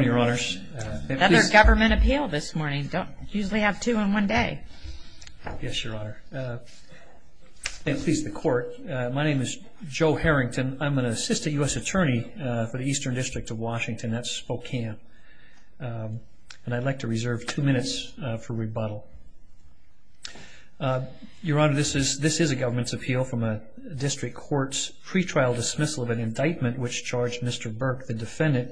another government appeal this morning don't usually have two in one day yes your honor please the court my name is Joe Harrington I'm an assistant US attorney for the Eastern District of Washington that's Spokane and I'd like to reserve two minutes for rebuttal your honor this is this is a government's appeal from a district courts pretrial dismissal of an indictment which charged mr. Burke the defendant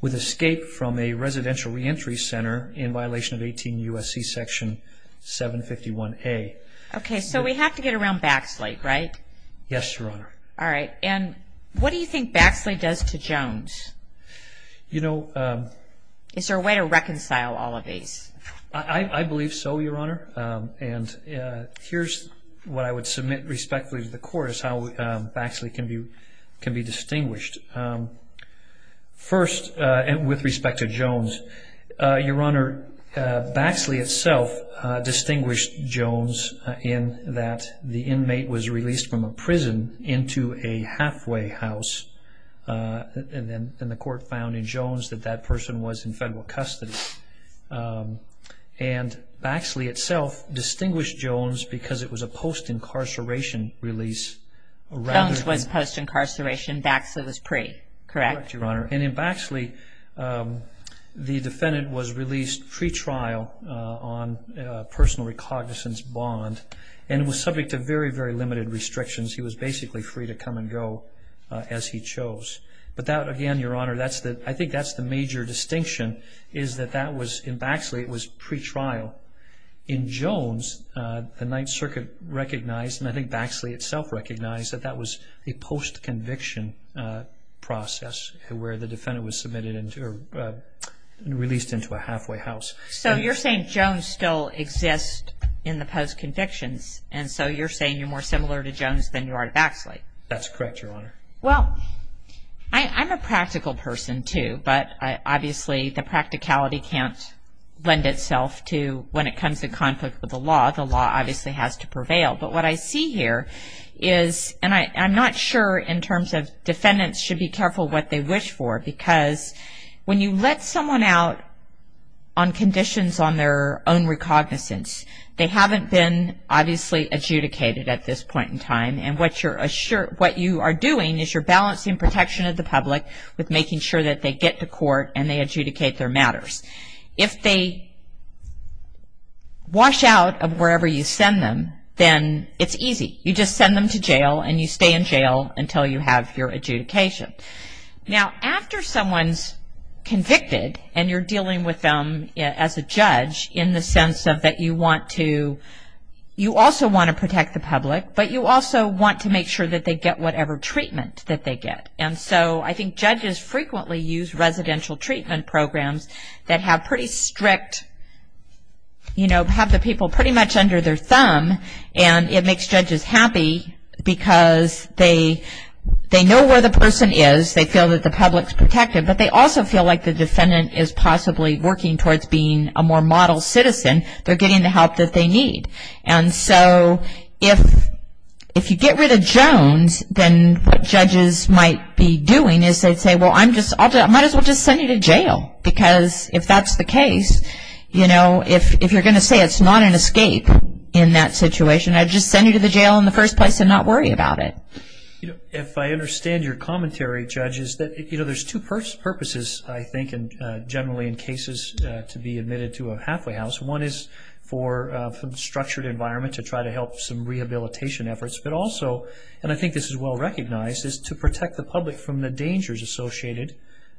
with escape from a residential reentry center in violation of 18 USC section 751 a okay so we have to get around Baxley right yes your honor all right and what do you think Baxley does to Jones you know is there a way to reconcile all of these I believe so your honor and here's what I would submit respectfully to the court is how Baxley can be can be distinguished first and with respect to Jones your honor Baxley itself distinguished Jones in that the inmate was released from a prison into a halfway house and then in the court found in Jones that that person was in federal custody and Baxley itself distinguished Jones because it was a incarceration Baxley was pre correct your honor and in Baxley the defendant was released pretrial on personal recognizance bond and it was subject to very very limited restrictions he was basically free to come and go as he chose but that again your honor that's that I think that's the major distinction is that that was in Baxley it was pretrial in Jones the Ninth Circuit recognized and I think Baxley itself recognized that that was a post-conviction process where the defendant was submitted into released into a halfway house so you're saying Jones still exist in the post convictions and so you're saying you're more similar to Jones than you are to Baxley that's correct your honor well I'm a practical person too but I obviously the practicality can't lend itself to when it comes to conflict with the law the law obviously has to prevail but what I see here is and I I'm not sure in terms of defendants should be careful what they wish for because when you let someone out on conditions on their own recognizance they haven't been obviously adjudicated at this point in time and what you're sure what you are doing is you're balancing protection of the public with making sure that they get to court and they adjudicate their matters if they wash out of wherever you until you have your adjudication now after someone's convicted and you're dealing with them as a judge in the sense of that you want to you also want to protect the public but you also want to make sure that they get whatever treatment that they get and so I think judges frequently use residential treatment programs that have pretty strict you know have the people pretty much under their thumb and it makes judges happy because they they know where the person is they feel that the public's protected but they also feel like the defendant is possibly working towards being a more model citizen they're getting the help that they need and so if if you get rid of Jones then what judges might be doing is they'd say well I'm just I might as well just send you to jail because if that's the case you know if you're gonna say it's not an escape in that situation I'd just send you to the jail in the first place and not worry about it if I understand your commentary judges that you know there's two purpose purposes I think and generally in cases to be admitted to a halfway house one is for some structured environment to try to help some rehabilitation efforts but also and I think this is well recognized is to protect the public from the dangers associated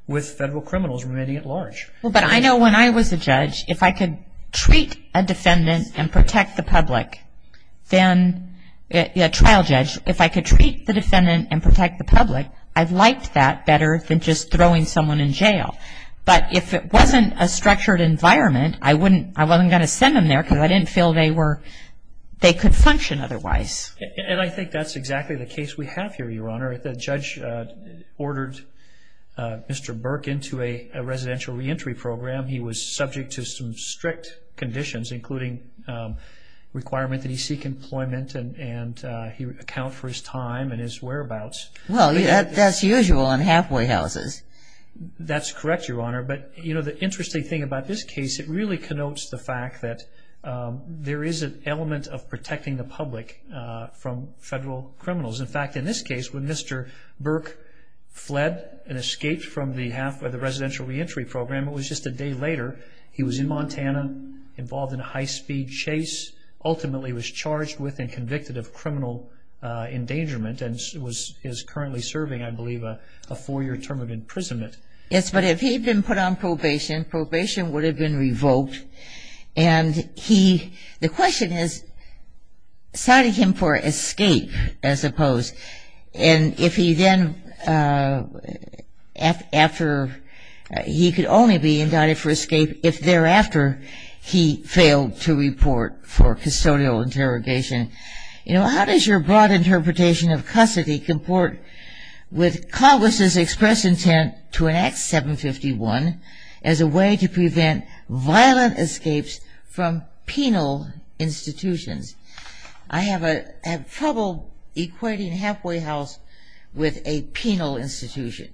with federal criminals remaining at large well but I know when I was a judge if I could treat a defendant and protect the public then a trial judge if I could treat the defendant and protect the public I've liked that better than just throwing someone in jail but if it wasn't a structured environment I wouldn't I wasn't gonna send them there because I didn't feel they were they could function otherwise and I think that's exactly the case we have here your honor the judge ordered mr. Burke into a residential reentry program he was requirement that he seek employment and and he would account for his time and his whereabouts well yeah that's usual on halfway houses that's correct your honor but you know the interesting thing about this case it really connotes the fact that there is an element of protecting the public from federal criminals in fact in this case when mr. Burke fled and escaped from the half or the residential reentry program it was just a day later he was in Montana involved in a high-speed chase ultimately was charged with and convicted of criminal endangerment and was is currently serving I believe a four-year term of imprisonment yes but if he'd been put on probation probation would have been revoked and he the question is cited him for escape as opposed and if he then after he could only be indicted for escape if thereafter he failed to report for custodial interrogation you know how does your broad interpretation of custody comport with Congress's express intent to enact 751 as a way to prevent violent escapes from penal institutions I have a trouble equating halfway house with a penal institution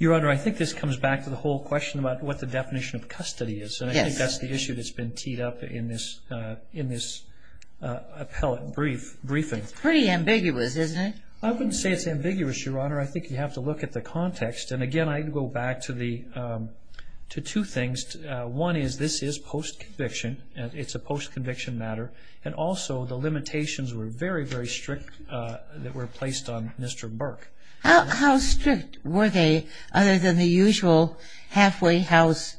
your honor I think this comes back to the whole question about what the definition of that's the issue that's been teed up in this in this appellate brief briefing pretty ambiguous isn't it I wouldn't say it's ambiguous your honor I think you have to look at the context and again I go back to the to two things one is this is post conviction and it's a post conviction matter and also the limitations were very very strict that were placed on mr. Burke how strict were other than the usual halfway house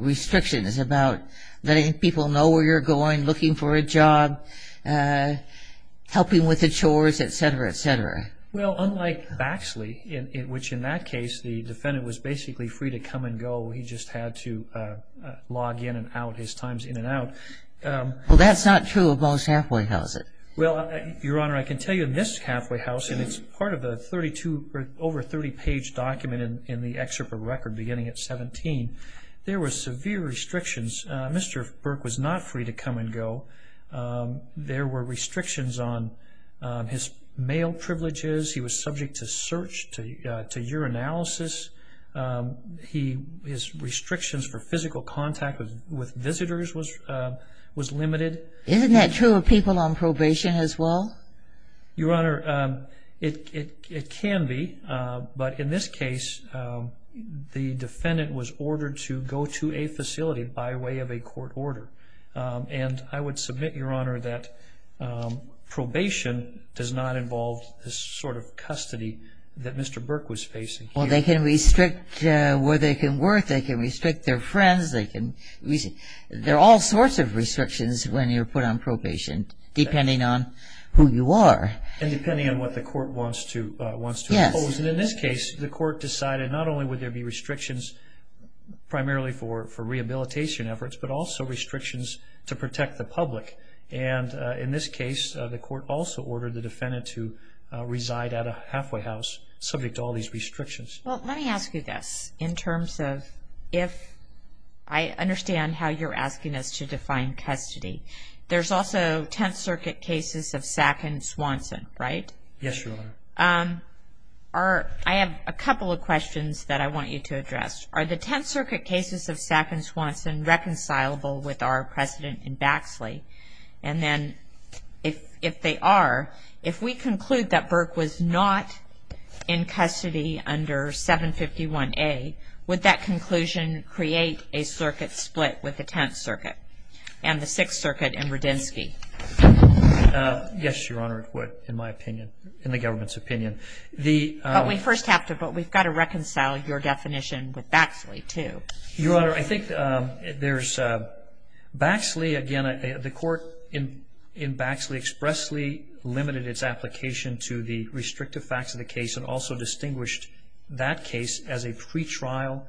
restrictions about letting people know where you're going looking for a job helping with the chores etc etc well unlike Baxley in which in that case the defendant was basically free to come and go he just had to log in and out his times in and out well that's not true of most halfway houses well your honor I can tell you this halfway house and it's part of the 32 over 30 page document in the excerpt of record beginning at 17 there were severe restrictions mr. Burke was not free to come and go there were restrictions on his male privileges he was subject to search to your analysis he his restrictions for physical contact with visitors was was limited isn't that people on probation as well your honor it can be but in this case the defendant was ordered to go to a facility by way of a court order and I would submit your honor that probation does not involve this sort of custody that mr. Burke was facing well they can restrict where they can work they can restrict their friends they can they're all sorts of restrictions when you're put on probation depending on who you are and depending on what the court wants to wants to in this case the court decided not only would there be restrictions primarily for for rehabilitation efforts but also restrictions to protect the public and in this case the court also ordered the defendant to reside at a halfway house subject to all these restrictions well let me ask you this in I understand how you're asking us to define custody there's also 10th circuit cases of SAC and Swanson right yes your honor um are I have a couple of questions that I want you to address are the 10th circuit cases of SAC and Swanson reconcilable with our president in Baxley and then if if they are if we conclude that Burke was not in custody under 751 a with that conclusion create a circuit split with the 10th circuit and the 6th circuit and Rudinsky yes your honor what in my opinion in the government's opinion the we first have to but we've got to reconcile your definition with Baxley to your honor I think there's Baxley again the court in in Baxley expressly limited its application to the restrictive facts of the case and also distinguished that case as a pre-trial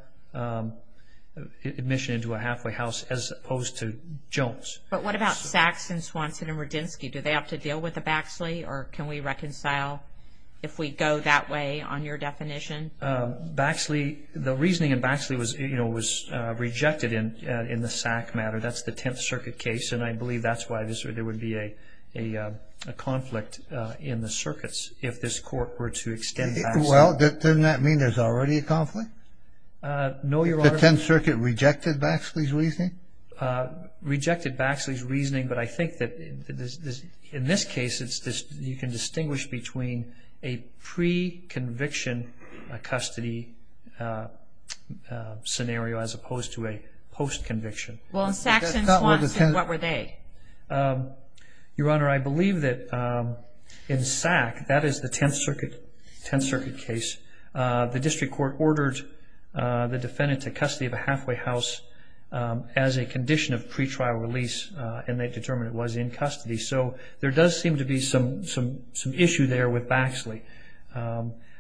admission into a halfway house as opposed to Jones but what about SACs and Swanson and Rudinsky do they have to deal with the Baxley or can we reconcile if we go that way on your definition Baxley the reasoning in Baxley was you know was rejected in in the SAC matter that's the 10th circuit case and I believe that's why this or there would be a a conflict in the conflict no your honor 10th circuit rejected Baxley's reasoning rejected Baxley's reasoning but I think that in this case it's just you can distinguish between a pre-conviction a custody scenario as opposed to a post conviction what were they your honor I believe that in SAC that is the 10th court ordered the defendant to custody of a halfway house as a condition of pre-trial release and they determined it was in custody so there does seem to be some some some issue there with Baxley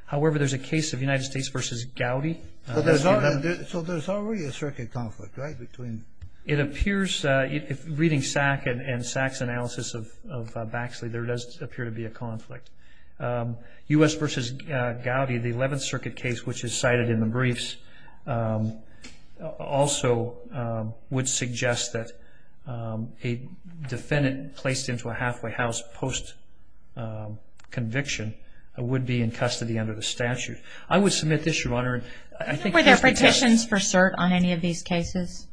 however there's a case of United States versus Gowdy so there's already a circuit conflict right between it appears if reading SAC and SAC's analysis of Baxley there does appear to be a decided in the briefs also would suggest that a defendant placed into a halfway house post conviction would be in custody under the statute I would submit this your honor I think were there petitions for cert on any of these cases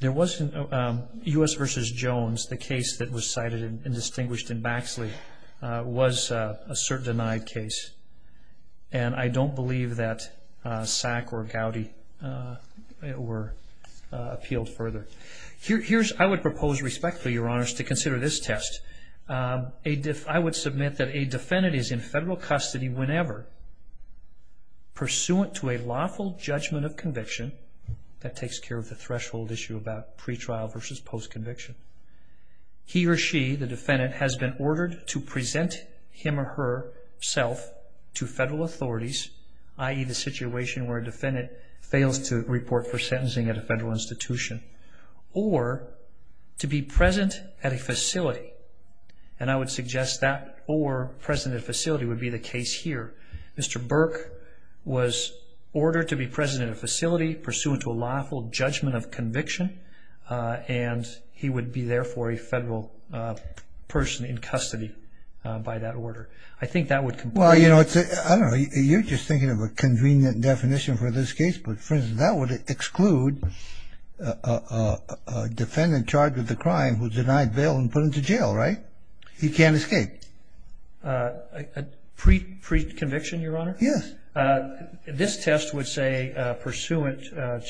there wasn't a US vs. Jones the case that was cited in distinguished in appealed further here's I would propose respectfully your honors to consider this test a diff I would submit that a defendant is in federal custody whenever pursuant to a lawful judgment of conviction that takes care of the threshold issue about pre-trial versus post conviction he or she the defendant has been ordered to present him or her self to federal authorities ie the defendant fails to report for sentencing at a federal institution or to be present at a facility and I would suggest that or president facility would be the case here mr. Burke was ordered to be president facility pursuant to a lawful judgment of conviction and he would be there for a federal person in custody by that order I think that would comply you know it's a you're just thinking of a convenient definition for this case but for that would exclude defendant charged with the crime was denied bail and put into jail right he can't escape pre-conviction your honor yes this test would say pursuant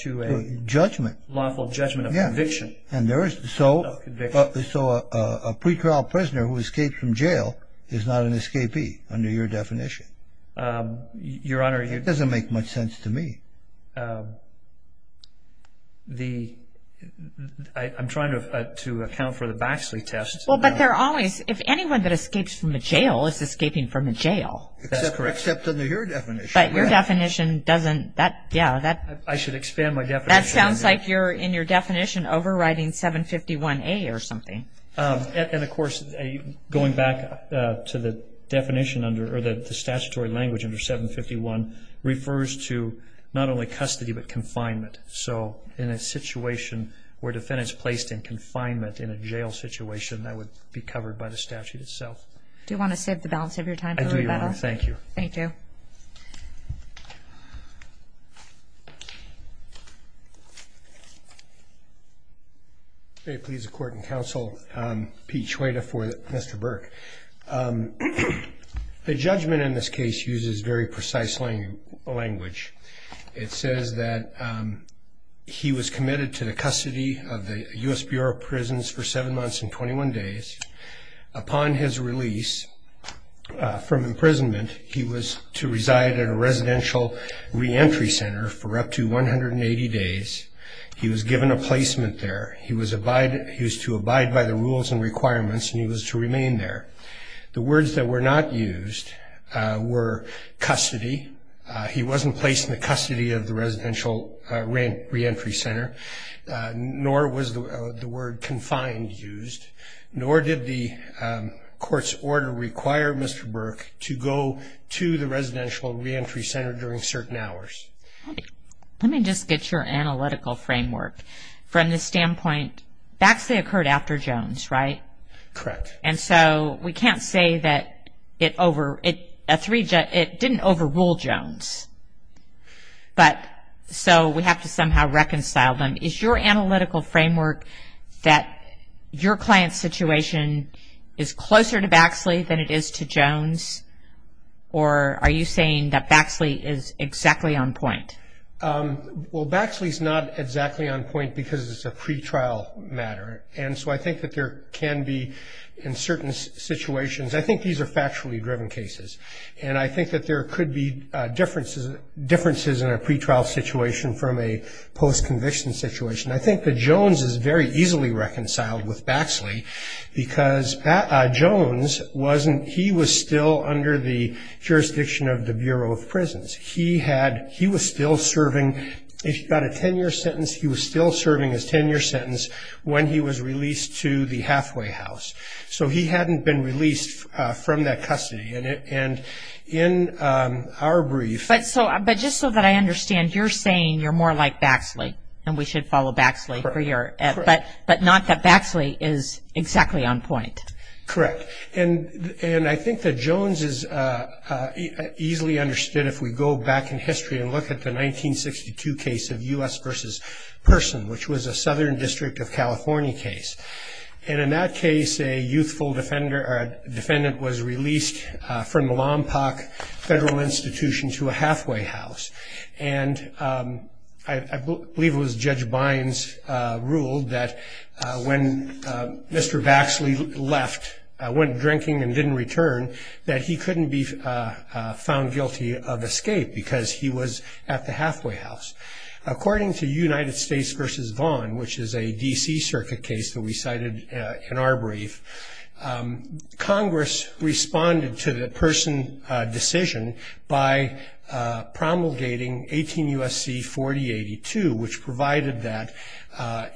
to a judgment lawful judgment of conviction and there is so a pre-trial prisoner who doesn't make much sense to me the I'm trying to account for the Baxley test well but they're always if anyone that escapes from the jail is escaping from the jail except under your definition but your definition doesn't that yeah that I should expand my death that sounds like you're in your definition overriding 751 a or something and of course going back to the definition under or that the statutory language under 751 refers to not only custody but confinement so in a situation where defendants placed in confinement in a jail situation that would be covered by the statute itself do you want to set the balance of your time thank you thank you they please a court and counsel peach waiter for mr. Burke the judgment in this case uses very precisely language it says that he was committed to the custody of the US Bureau of Prisons for seven months and 21 days upon his release from imprisonment he was to reside in a residential reentry center for up to 180 days he was given a placement there he was abide he was to abide by the rules and requirements and he was to remain there the words that were not used were custody he wasn't placed in the custody of the residential rent reentry center nor was the word confined used nor did the court's order require mr. Burke to go to the residential reentry center during certain hours let me just get your analytical framework from the standpoint backs they occurred after Jones right correct and so we can't say that it over it a three jet it didn't overrule Jones but so we have to somehow reconcile them is your analytical framework that your client situation is closer to Baxley than it is to Jones or are you saying that Baxley is exactly on point well Baxley is not exactly on point because it's a pretrial matter and so I think that there can be in certain situations I think these are factually driven cases and I think that there could be differences differences in a pretrial situation from a post-conviction situation I think the Jones is very he was still under the jurisdiction of the Bureau of Prisons he had he was still serving he's got a 10-year sentence he was still serving his 10-year sentence when he was released to the Hathaway house so he hadn't been released from that custody in it and in our brief but so but just so that I understand you're saying you're more like Baxley and we should follow Baxley but but not that Baxley is exactly on point correct and and I think that Jones is easily understood if we go back in history and look at the 1962 case of us versus person which was a Southern District of California case and in that case a youthful defender or a defendant was released from the Lompoc federal institution to a Hathaway house and I believe it was judge Bynes ruled that when mr. Baxley left I went drinking and didn't return that he couldn't be found guilty of escape because he was at the Hathaway house according to United States versus Vaughn which is a DC Circuit case that we cited in our brief Congress responded to the person decision by promulgating 18 USC 4082 which provided that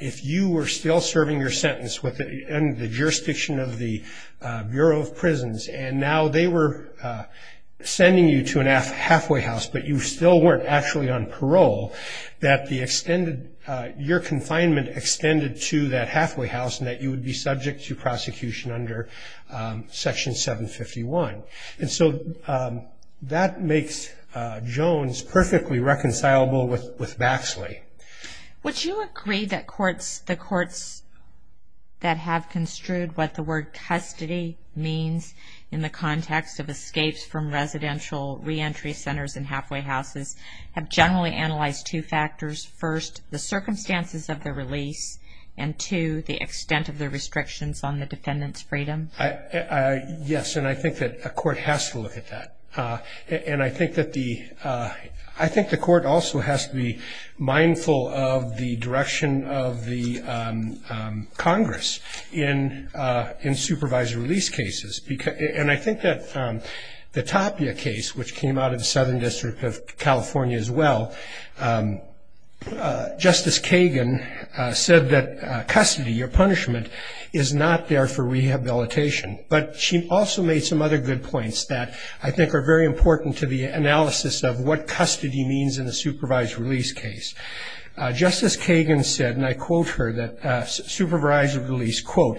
if you were still serving your sentence with it and the jurisdiction of the Bureau of Prisons and now they were sending you to an half Hathaway house but you still weren't actually on parole that the extended your confinement extended to that Hathaway house and that you would be subject to prosecution under section 751 and so that makes Jones perfectly reconcilable with with Baxley. Would you agree that courts the courts that have construed what the word custody means in the context of escapes from residential re-entry centers and halfway houses have generally analyzed two factors first the restrictions on the defendant's freedom? Yes and I think that a court has to look at that and I think that the I think the court also has to be mindful of the direction of the Congress in in supervised release cases because and I think that the Tapia case which came out of the Southern District of California as well Justice Kagan said that custody or punishment is not there for rehabilitation but she also made some other good points that I think are very important to the analysis of what custody means in the supervised release case. Justice Kagan said and I quote her that supervised release quote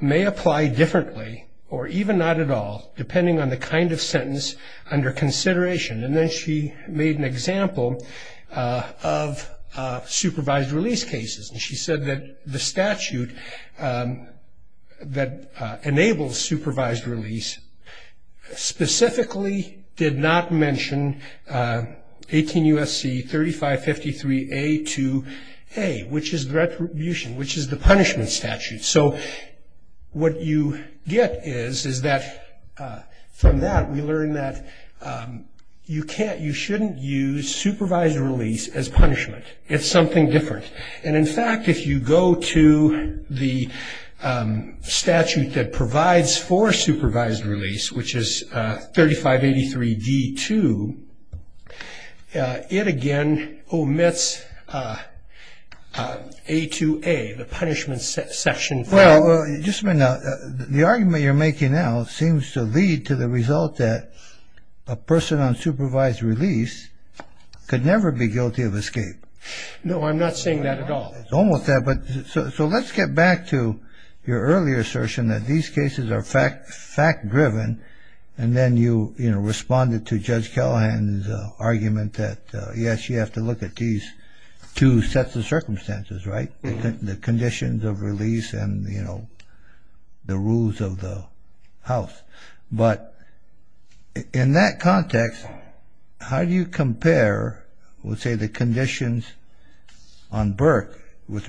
may apply differently or even not at all depending on the kind of sentence under consideration and then she made an example of supervised release cases and she said that the statute that enables supervised release specifically did not mention 18 U.S.C. 3553 A to A which is retribution which is the punishment statute so what you get is is that from that we learned that you can't you shouldn't use supervised release as punishment it's something different and in fact if you go to the statute that provides for supervised release which is 3583 D2 it again omits A to A the punishment section. Well you just may not the argument you're making now seems to lead to the result that a person on supervised release could never be guilty of escape. No I'm not saying that at all. It's almost that but so let's get back to your earlier assertion that these then you you know responded to Judge Callahan's argument that yes you have to look at these two sets of circumstances right the conditions of release and you know the rules of the house but in that context how do you compare would say the conditions on Burke with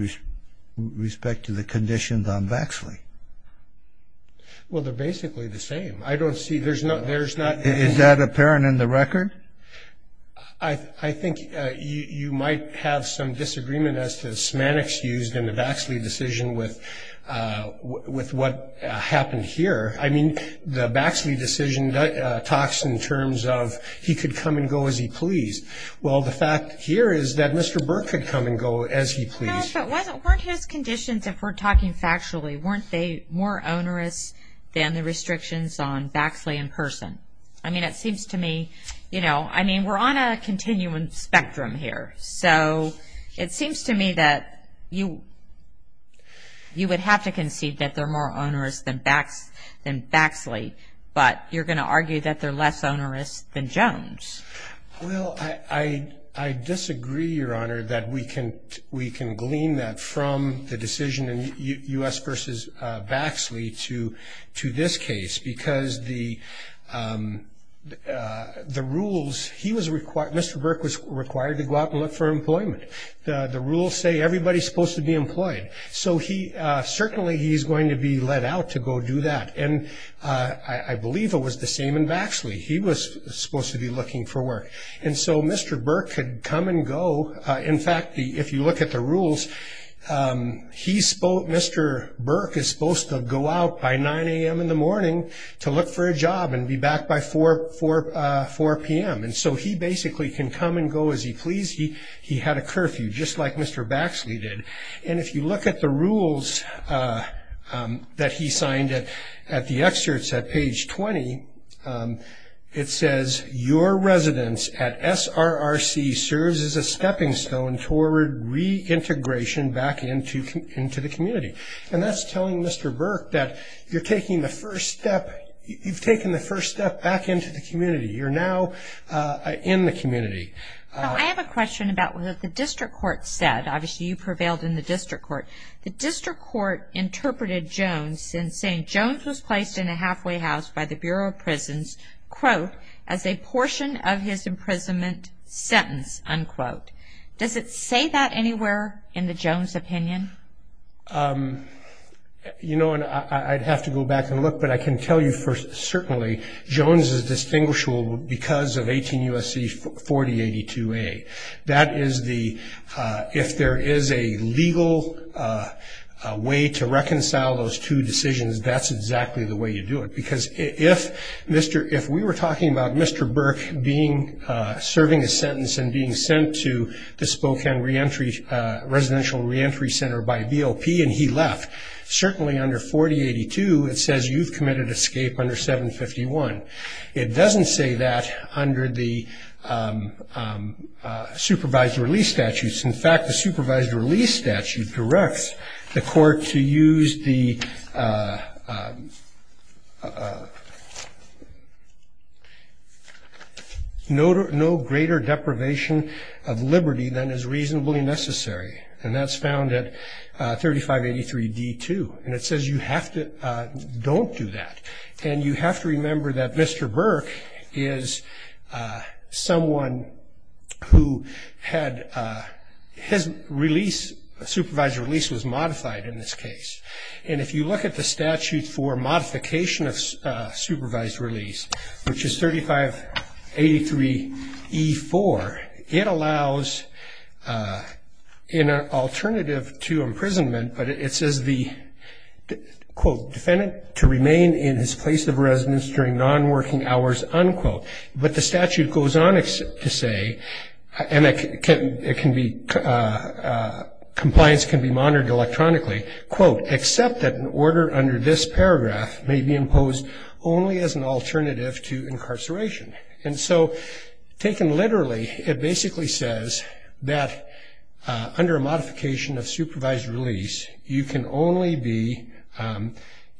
respect to the conditions on Vaxley? Well they're not there's not. Is that apparent in the record? I think you might have some disagreement as to semantics used in the Vaxley decision with with what happened here I mean the Vaxley decision that talks in terms of he could come and go as he pleased well the fact here is that Mr. Burke could come and go as he pleased. But weren't his conditions if we're talking factually weren't they more onerous than the restrictions on Vaxley in person? I mean it seems to me you know I mean we're on a continuum spectrum here so it seems to me that you you would have to concede that they're more onerous than Vaxley but you're going to argue that they're less onerous than Jones. Well I disagree your Vaxley to to this case because the the rules he was required Mr. Burke was required to go out and look for employment. The rules say everybody's supposed to be employed so he certainly he's going to be let out to go do that and I believe it was the same in Vaxley he was supposed to be looking for work and so Mr. Burke could come and go in fact if you look at the rules he spoke Mr. Burke is supposed to go out by 9 a.m. in the morning to look for a job and be back by 4 p.m. and so he basically can come and go as he pleased he he had a curfew just like Mr. Vaxley did and if you look at the rules that he signed it at the excerpts at page 20 it says your residence at SRRC serves as a stepping stone toward reintegration back into into the community and that's telling Mr. Burke that you're taking the first step you've taken the first step back into the community you're now in the community I have a question about what the district court said obviously you prevailed in the district court the district court interpreted Jones and saying Jones was placed in a halfway house by the Bureau of Prisons quote as a portion of his imprisonment sentence unquote does it say that anywhere in the Jones opinion you know and I'd have to go back and look but I can tell you first certainly Jones is distinguishable because of 18 USC 4082 a that is the if there is a legal way to reconcile those two decisions that's exactly the way you do it because if mr. if we were talking about mr. Burke being serving a sentence and being sent to the Spokane reentry residential reentry center by BOP and he left certainly under 4082 it says you've committed escape under 751 it doesn't say that under the supervised release statutes in fact the supervised release statute directs the court to use the no greater deprivation of liberty than is reasonably necessary and that's found at 3583 d2 and it says you have to don't do that and you have to remember that mr. Burke is someone who had his release supervised release was modified in this case and if you look at the statute for modification of supervised release which is 3583 e4 it allows in an alternative to imprisonment but it says the quote defendant to remain in his place of residence during non-working hours unquote but the statute goes on to say and it can be compliance can be monitored electronically quote except that an order under this paragraph may be imposed only as an alternative to incarceration and so taken literally it basically says that under a modification of supervised release you can only be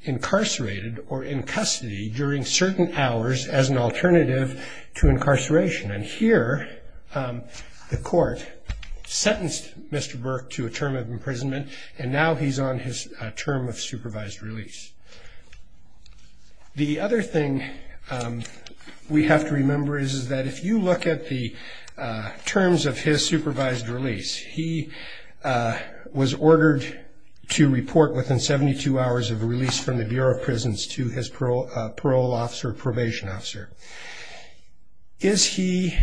incarcerated or in custody during certain hours as an alternative to incarceration and here the court sentenced mr. Burke to a term of imprisonment and now he's on his term of supervised release the other thing we have to remember is that if you look at the terms of his supervised release he was ordered to report within 72 hours of release from the Bureau of Prisons to his parole officer probation officer is he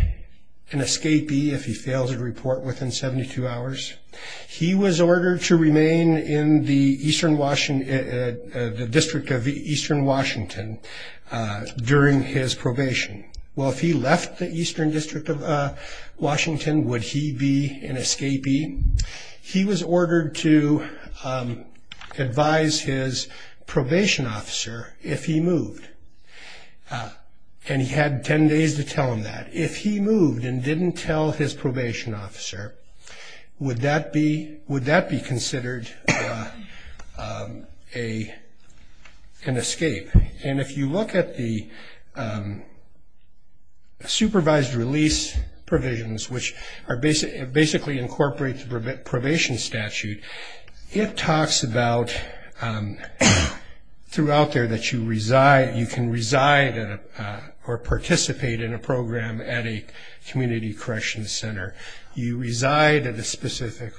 an escapee if he fails to report within 72 hours he was ordered to remain in the Eastern Washington the District of Eastern Washington during his Washington would he be an escapee he was ordered to advise his probation officer if he moved and he had 10 days to tell him that if he moved and didn't tell his probation officer would that be would that be considered a an escape and if you look at the supervised release provisions which are basic basically incorporate the probation statute it talks about throughout there that you reside you can reside or participate in a program at a Community Correction Center you reside at a specific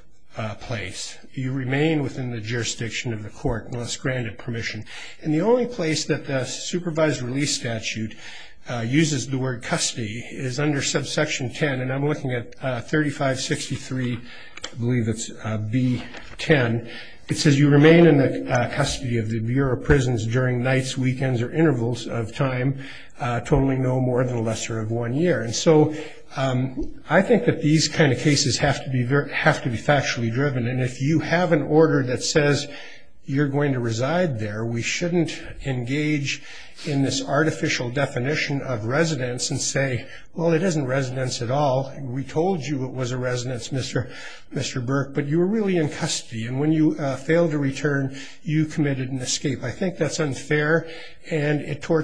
place you remain within the jurisdiction of permission and the only place that the supervised release statute uses the word custody is under subsection 10 and I'm looking at 3563 believe it's be 10 it says you remain in the custody of the Bureau of Prisons during nights weekends or intervals of time totally no more than a lesser of one year and so I think that these kind of cases have to be very have to be factually driven and if you have an order that says you're going to reside there we shouldn't engage in this artificial definition of residence and say well it isn't residence at all we told you it was a residence mr. mr. Burke but you were really in custody and when you fail to return you committed an escape I think that's unfair and it address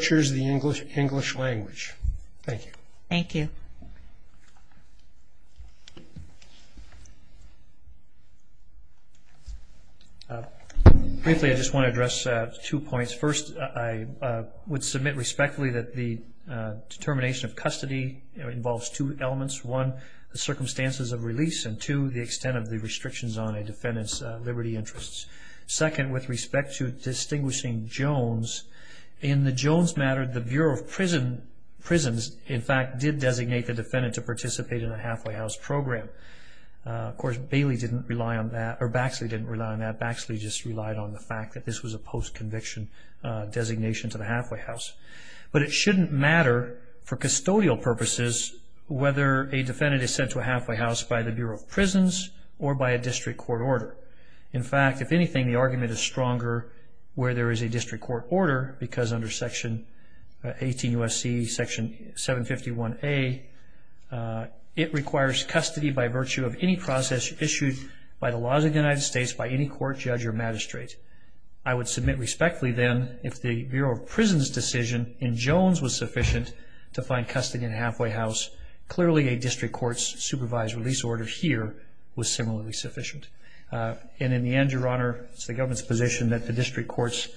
two points first I would submit respectfully that the determination of custody involves two elements one the circumstances of release and to the extent of the restrictions on a defendant's liberty interests second with respect to distinguishing Jones in the Jones matter the Bureau of prison prisons in fact did designate the defendant to participate in a halfway house program course Bailey didn't rely on that or Baxley didn't rely on that actually just relied on the fact that this was a post conviction designation to the halfway house but it shouldn't matter for custodial purposes whether a defendant is sent to a halfway house by the Bureau of prisons or by a district court order in fact if anything the argument is stronger where there is a it requires custody by virtue of any process issued by the laws of the United States by any court judge or magistrate I would submit respectfully then if the Bureau of prisons decision in Jones was sufficient to find custody in halfway house clearly a district courts supervised release order here was similarly sufficient and in the end your honor it's the government's position that the district courts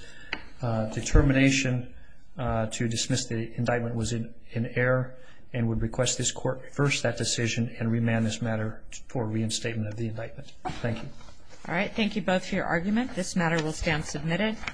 determination to dismiss the indictment was in an error and would request this court first that decision and remand this matter for reinstatement of the indictment thank you all right thank you both for your argument this matter will stand submitted